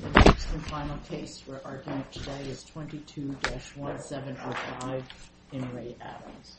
The next and final case we're arguing today is 22-1705 N. Ray Adams.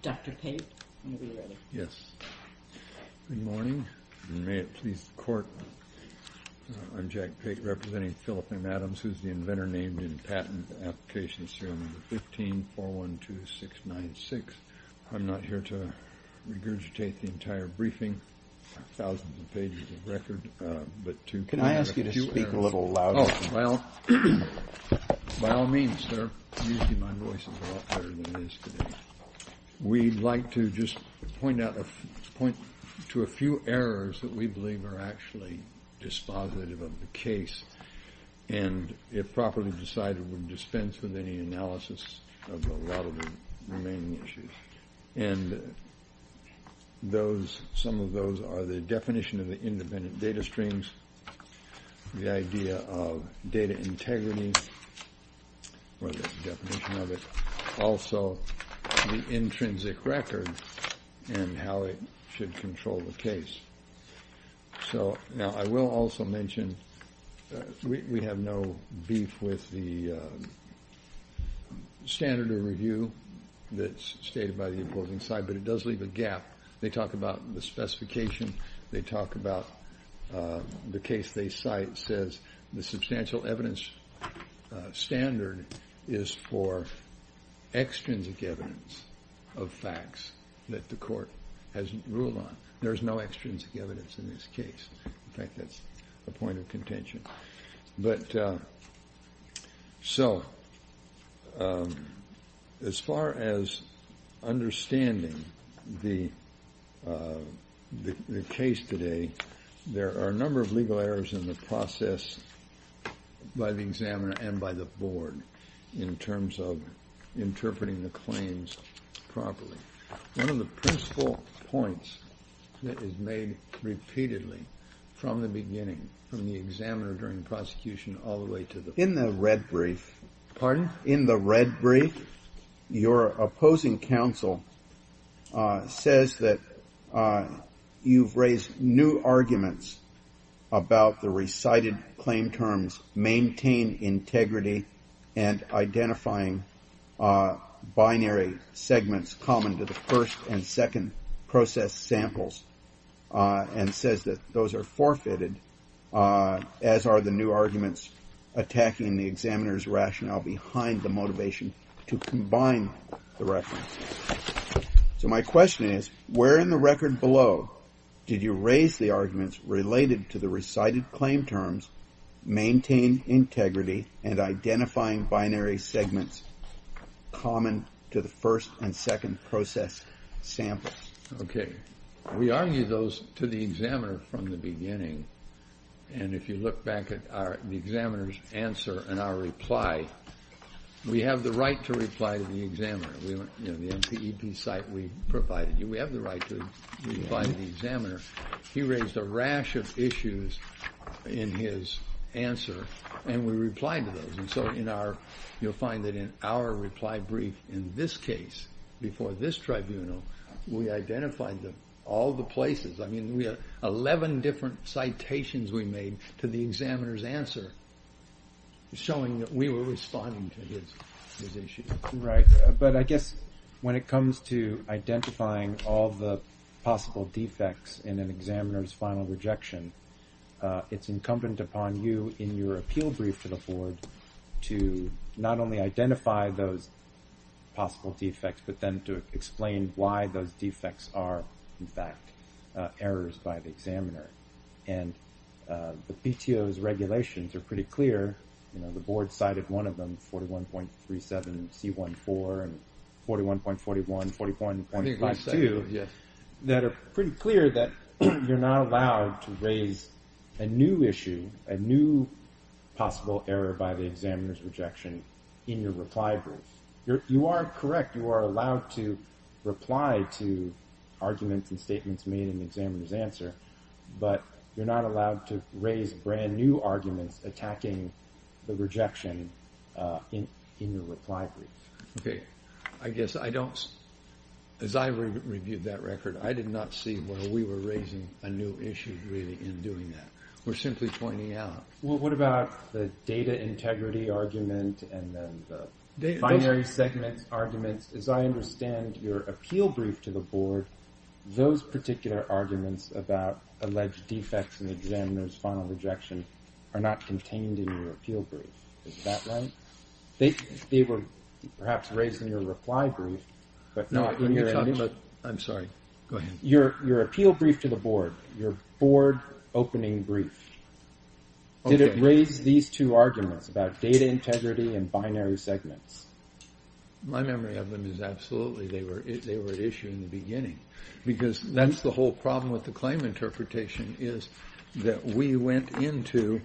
Dr. Pate, are you ready? Yes. Good morning, and may it please the Court, I'm Jack Pate, representing Philip M. Adams, who's the inventor named in patent application serial number 15412696. I'm not here to regurgitate the entire briefing, thousands of pages of record, Can I ask you to speak a little louder? Oh, by all means, sir. Usually my voice is a lot better than it is today. We'd like to just point to a few errors that we believe are actually dispositive of the case, and if properly decided, would dispense with any analysis of a lot of the remaining issues. And some of those are the definition of the independent data streams, the idea of data integrity, or the definition of it, also the intrinsic record and how it should control the case. So, now I will also mention, we have no beef with the standard of review that's stated by the opposing side, but it does leave a gap. They talk about the specification, they talk about the case they cite says the substantial evidence standard is for extrinsic evidence of facts that the Court hasn't ruled on. There's no extrinsic evidence in this case. In fact, that's a point of contention. But, so, as far as understanding the case today, there are a number of legal errors in the process by the examiner and by the Board in terms of interpreting the claims properly. One of the principal points that is made repeatedly from the beginning, from the examiner during the prosecution all the way to the... In the red brief... Pardon? In the red brief, your opposing counsel says that you've raised new arguments about the recited claim terms maintain integrity and identifying binary segments common to the first and second process samples and says that those are forfeited as are the new arguments attacking the examiner's rationale behind the motivation to combine the reference. So, my question is, where in the record below did you raise the arguments related to the recited claim terms maintain integrity and identifying binary segments common to the first and second process samples? Okay. We argue those to the examiner from the beginning. And if you look back at the examiner's answer and our reply, we have the right to reply to the examiner. In the NCEP site we provided you, we have the right to reply to the examiner. He raised a rash of issues in his answer, and we replied to those. And so, you'll find that in our reply brief in this case, before this tribunal, we identified all the places. I mean, we had 11 different citations we made to the examiner's answer showing that we were responding to his issue. Right. But I guess when it comes to identifying all the possible defects in an examiner's final rejection, it's incumbent upon you in your appeal brief to the board to not only identify those possible defects, but then to explain why those defects are, in fact, errors by the examiner. And the PTO's regulations are pretty clear. You know, the board cited one of them, 41.37C14 and 41.41, 41.52, that are pretty clear that you're not allowed to raise a new issue, a new possible error by the examiner's rejection in your reply brief. You are correct. You are allowed to reply to arguments and statements made in the examiner's answer, but you're not allowed to raise brand new arguments attacking the rejection in your reply brief. Okay. I guess I don't, as I reviewed that record, I did not see where we were raising a new issue really in doing that. We're simply pointing out. Well, what about the data integrity argument and then the binary segment arguments? As I understand your appeal brief to the board, those particular arguments about alleged defects in the examiner's final rejection are not contained in your appeal brief. Is that right? They were perhaps raised in your reply brief, but not in your initial. I'm sorry. Go ahead. Your appeal brief to the board, your board opening brief, did it raise these two arguments about data integrity and binary segments? My memory of them is absolutely they were issued in the beginning, because that's the whole problem with the claim interpretation is that we went into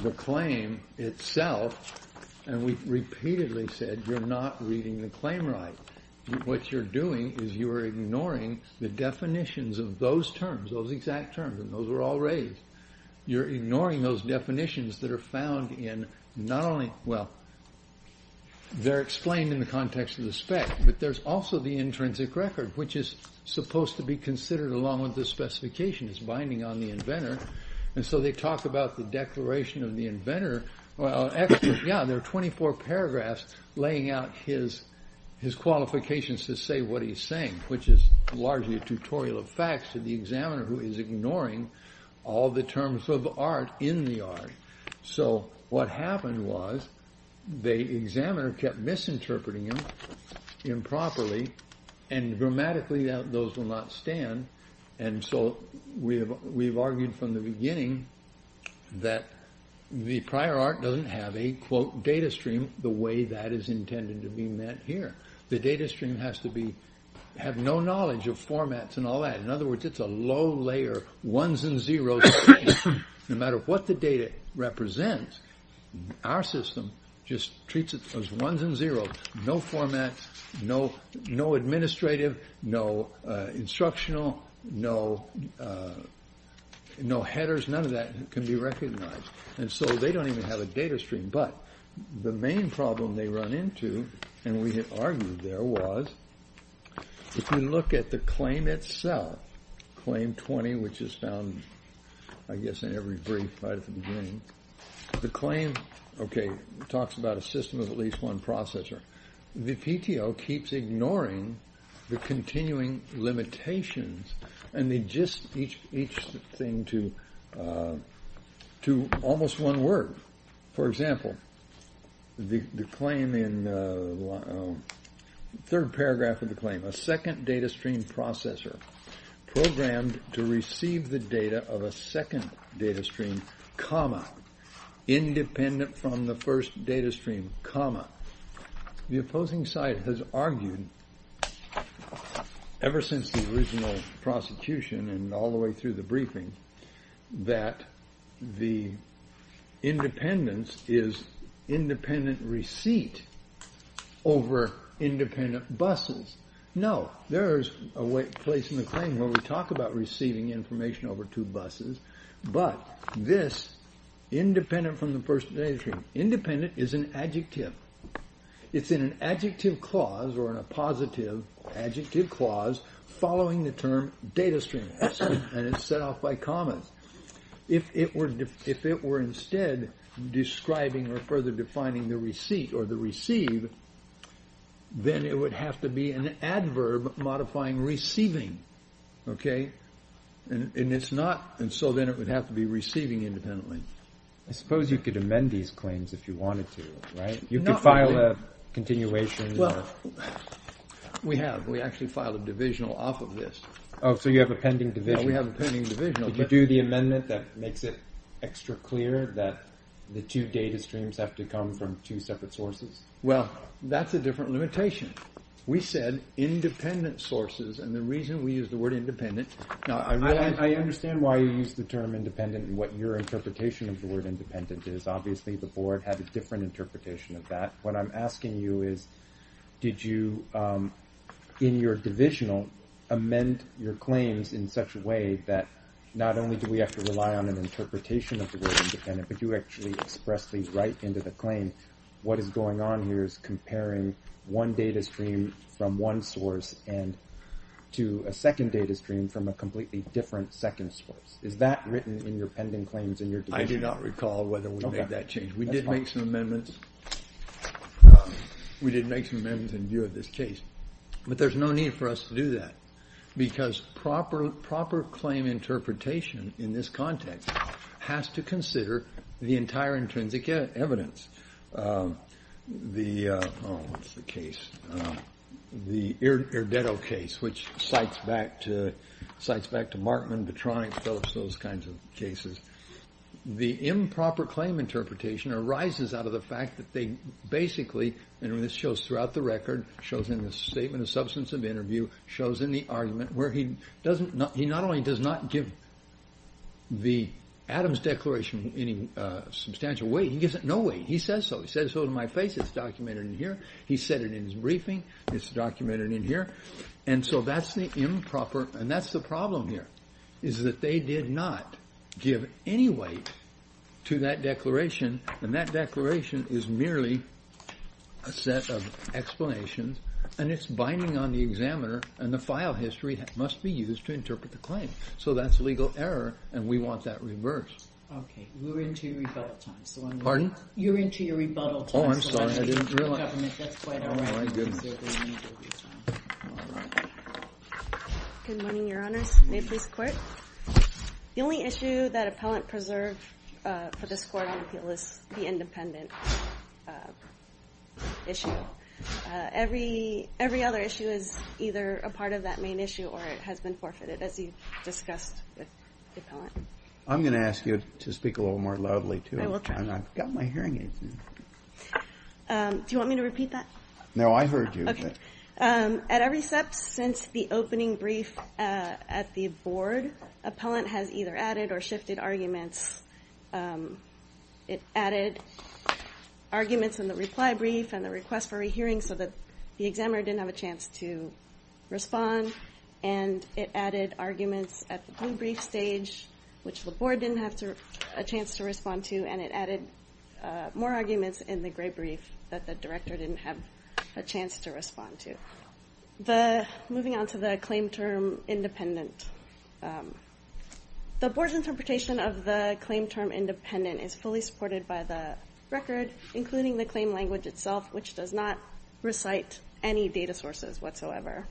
the claim itself and we repeatedly said, you're not reading the claim right. What you're doing is you are ignoring the definitions of those terms, those exact terms, and those were all raised. You're ignoring those definitions that are found in not only. Well, they're explained in the context of the spec, but there's also the intrinsic record, which is supposed to be considered along with the specifications binding on the inventor. And so they talk about the declaration of the inventor. Well, yeah, there are 24 paragraphs laying out his his qualifications to say what he's saying, which is largely a tutorial of facts to the examiner who is ignoring all the terms of art in the art. So what happened was the examiner kept misinterpreting improperly and grammatically that those will not stand. And so we have we've argued from the beginning that the prior art doesn't have a quote data stream the way that is intended to be met here. The data stream has to be have no knowledge of formats and all that. In other words, it's a low layer ones and zeros. No matter what the data represents, our system just treats it as ones and zeros. No format, no, no administrative, no instructional, no, no headers, none of that can be recognized. And so they don't even have a data stream. But the main problem they run into and we have argued there was if you look at the claim itself, claim 20, which is found, I guess, in every brief right at the beginning, the claim, OK, talks about a system of at least one processor. The PTO keeps ignoring the continuing limitations and they just each each thing to to almost one word. For example, the claim in the third paragraph of the claim, a second data stream processor programmed to receive the data of a second data stream, comma, independent from the first data stream, comma. The opposing side has argued ever since the original prosecution and all the way through the briefing that the independence is independent receipt over independent buses. No, there is a place in the claim where we talk about receiving information over two buses. But this independent from the first day is independent is an adjective. It's in an adjective clause or a positive adjective clause following the term data stream. And it's set off by comments. If it were if it were instead describing or further defining the receipt or the receive, then it would have to be an adverb modifying receiving. OK, and it's not. And so then it would have to be receiving independently. I suppose you could amend these claims if you wanted to. Right. You can file a continuation. Well, we have we actually filed a divisional off of this. Oh, so you have a pending division. We have a pending division. Did you do the amendment that makes it extra clear that the two data streams have to come from two separate sources? Well, that's a different limitation. We said independent sources. And the reason we use the word independent now, I mean, I understand why you use the term independent and what your interpretation of the word independent is. Obviously, the board had a different interpretation of that. What I'm asking you is, did you in your divisional amend your claims in such a way that not only do we have to rely on an interpretation of the word independent, but you actually express these right into the claim? What is going on here is comparing one data stream from one source and to a second data stream from a completely different second source. Is that written in your pending claims in your division? I do not recall whether we made that change. We did make some amendments. We did make some amendments in view of this case, but there's no need for us to do that because proper, claim interpretation in this context has to consider the entire intrinsic evidence. The case, the case, which cites back to cites back to Markman, those kinds of cases. The improper claim interpretation arises out of the fact that they basically and this shows throughout the record, shows in the statement of substance of interview, shows in the argument where he doesn't he not only does not give the Adams declaration any substantial weight, he gives it no weight. He says so. He says so to my face. It's documented in here. He said it in his briefing. It's documented in here. And so that's the improper and that's the problem here is that they did not give any weight to that declaration. And that declaration is merely a set of explanations. And it's binding on the examiner. And the file history must be used to interpret the claim. So that's legal error. And we want that reversed. OK, we're into rebuttal time. Pardon? You're into your rebuttal. Oh, I'm sorry. I didn't realize. All right. Good morning, Your Honor. May please quit. The only issue that appellant preserved for this court on appeal is the independent issue. Every every other issue is either a part of that main issue or it has been forfeited. As you discussed with the appellant, I'm going to ask you to speak a little more loudly to it. I've got my hearing aids. Do you want me to repeat that? No, I heard you. At every step since the opening brief at the board, appellant has either added or shifted arguments. It added arguments in the reply brief and the request for a hearing so that the examiner didn't have a chance to respond. And it added arguments at the brief stage, which the board didn't have a chance to respond to. And it added more arguments in the great brief that the director didn't have a chance to respond to. The moving on to the claim term independent. The board's interpretation of the claim term independent is fully supported by the record, including the claim language itself, which does not recite any data sources whatsoever.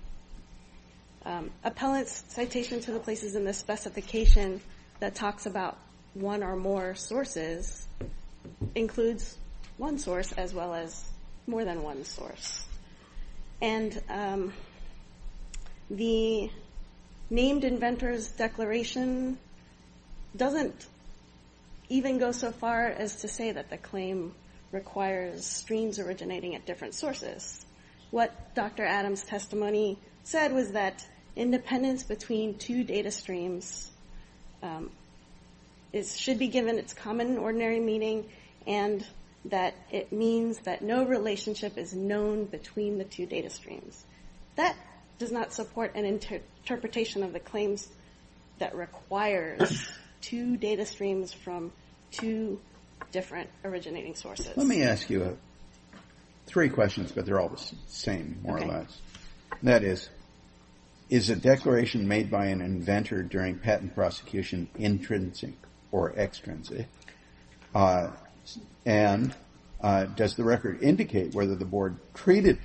Appellant's citation to the places in the specification that talks about one or more sources includes one source as well as more than one source. And the named inventors declaration doesn't even go so far as to say that the claim requires streams originating at different sources. What Dr. Adams' testimony said was that independence between two data streams should be given its common ordinary meaning and that it means that no relationship is known between the two data streams. That does not support an interpretation of the claims that requires two data streams from two different originating sources. Let me ask you three questions, but they're all the same, more or less. That is, is a declaration made by an inventor during patent prosecution intrinsic or extrinsic? And does the record indicate whether the board treated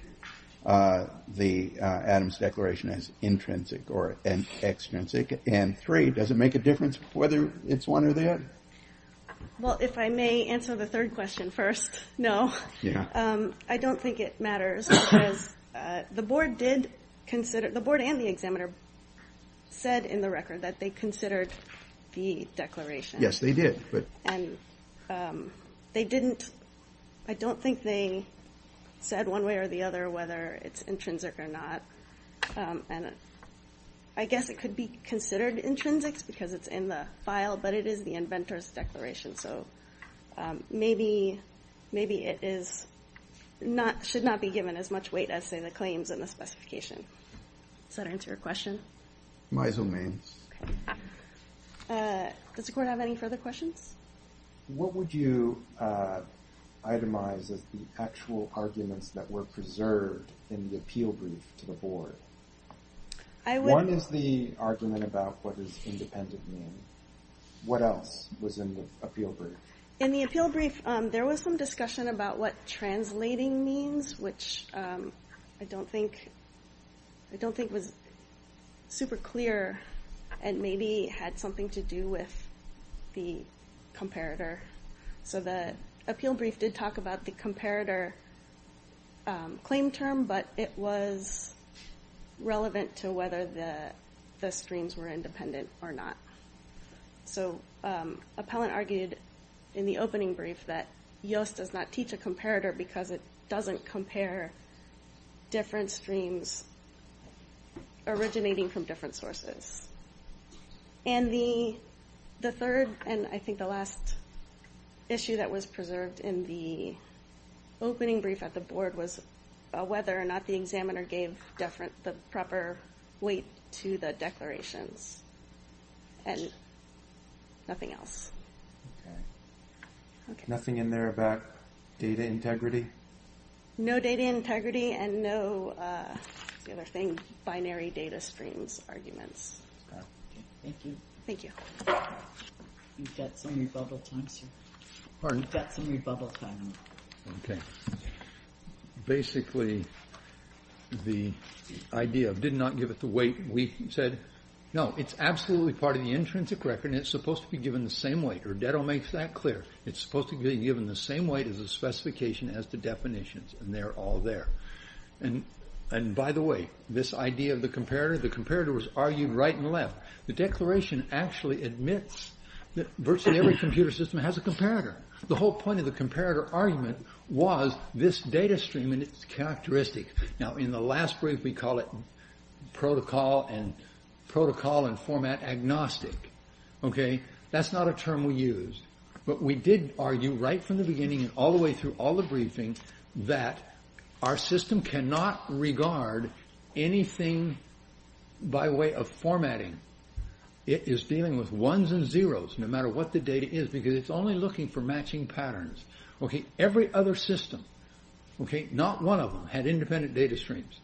the Adams declaration as intrinsic or extrinsic? And three, does it make a difference whether it's one or the other? Well, if I may answer the third question first. No, I don't think it matters because the board and the examiner said in the record that they considered the declaration. Yes, they did. And I don't think they said one way or the other whether it's intrinsic or not. And I guess it could be considered intrinsic because it's in the file, but it is the inventor's declaration. So maybe it should not be given as much weight as, say, the claims in the specification. Does that answer your question? My domain. Does the court have any further questions? What would you itemize as the actual arguments that were preserved in the appeal brief to the board? One is the argument about what does independent mean. What else was in the appeal brief? In the appeal brief, there was some discussion about what translating means, which I don't think was super clear and maybe had something to do with the comparator. So the appeal brief did talk about the comparator claim term, but it was relevant to whether the streams were independent or not. So Appellant argued in the opening brief that Yost does not teach a comparator because it doesn't compare different streams originating from different sources. And the third and I think the last issue that was preserved in the opening brief at the board was whether or not the examiner gave the proper weight to the declarations and nothing else. Nothing in there about data integrity? No data integrity and no binary data streams arguments. Thank you. Thank you. You've got some rebubble time, sir. Pardon? You've got some rebubble time. Okay. Basically, the idea of did not give it the weight, we said, no, it's absolutely part of the intrinsic record and it's supposed to be given the same weight. It's supposed to be given the same weight as the specification as the definitions and they're all there. And by the way, this idea of the comparator, the comparator was argued right and left. The declaration actually admits that virtually every computer system has a comparator. The whole point of the comparator argument was this data stream and its characteristics. Now, in the last brief, we call it protocol and protocol and format agnostic. Okay. That's not a term we use, but we did argue right from the beginning and all the way through all the briefing that our system cannot regard anything by way of formatting. It is dealing with ones and zeros no matter what the data is because it's only looking for matching patterns. Okay. Every other system. Okay. Not one of them had independent data streams.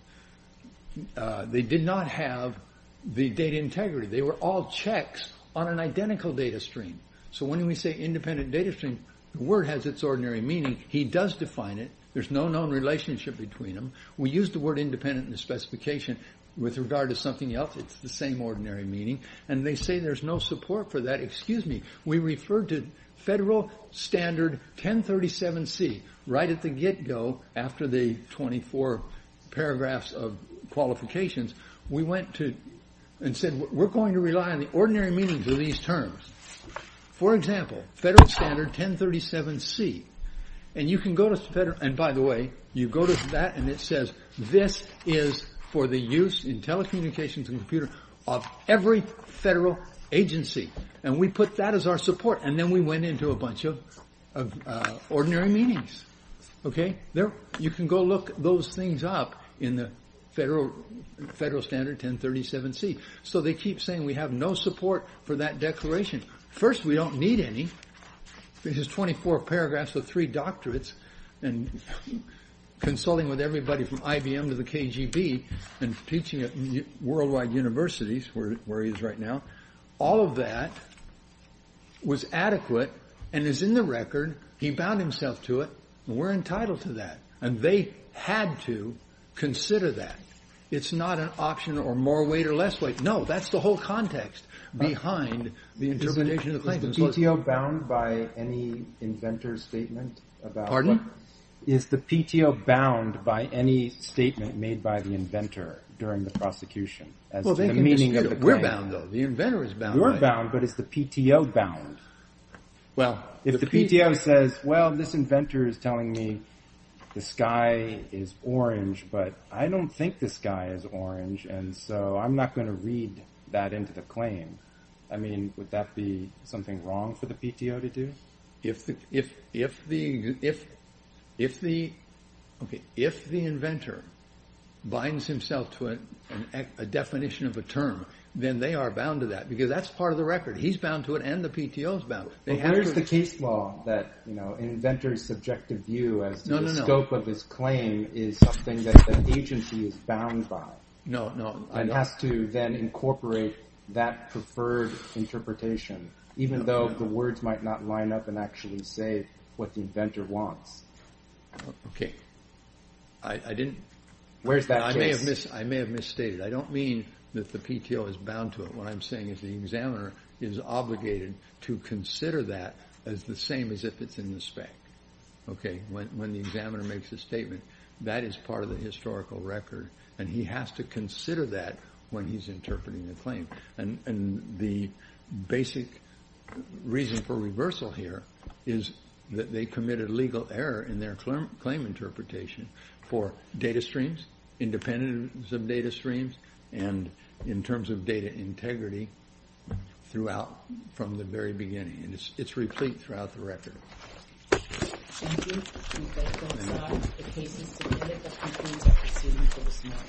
They did not have the data integrity. They were all checks on an identical data stream. So when we say independent data stream, the word has its ordinary meaning. He does define it. There's no known relationship between them. We use the word independent in the specification with regard to something else. It's the same ordinary meaning. And they say there's no support for that. Excuse me. We referred to federal standard 1037C right at the get-go after the 24 paragraphs of qualifications. We went to and said we're going to rely on the ordinary meanings of these terms. For example, federal standard 1037C. And you can go to federal and, by the way, you go to that and it says this is for the use in telecommunications and computer of every federal agency. And we put that as our support. And then we went into a bunch of ordinary meanings. Okay. You can go look those things up in the federal standard 1037C. So they keep saying we have no support for that declaration. First, we don't need any. This is 24 paragraphs with three doctorates and consulting with everybody from IBM to the KGB and teaching at worldwide universities where he is right now. All of that was adequate and is in the record. He bound himself to it. And we're entitled to that. And they had to consider that. It's not an option or more weight or less weight. No, that's the whole context behind the interpretation of the claim. Is the PTO bound by any inventor statement about what? Pardon? Is the PTO bound by any statement made by the inventor during the prosecution as to the meaning of the claim? We're bound, but it's the PTO bound. Well, if the PTO says, well, this inventor is telling me the sky is orange, but I don't think the sky is orange. And so I'm not going to read that into the claim. I mean, would that be something wrong for the PTO to do? If the inventor binds himself to a definition of a term, then they are bound to that because that's part of the record. He's bound to it and the PTO is bound to it. There's the case law that inventors subjective view as the scope of this claim is something that the agency is bound by. No, no. And has to then incorporate that preferred interpretation, even though the words might not line up and actually say what the inventor wants. OK. I didn't. Where's that? I may have missed. I may have misstated. I don't mean that the PTO is bound to it. What I'm saying is the examiner is obligated to consider that as the same as if it's in the spec. OK. When the examiner makes a statement, that is part of the historical record. And he has to consider that when he's interpreting the claim. And the basic reason for reversal here is that they committed legal error in their claim interpretation for data streams, independence of data streams, and in terms of data integrity throughout from the very beginning. And it's replete throughout the record. Thank you. And that concludes our cases today. Thank you. Thank you.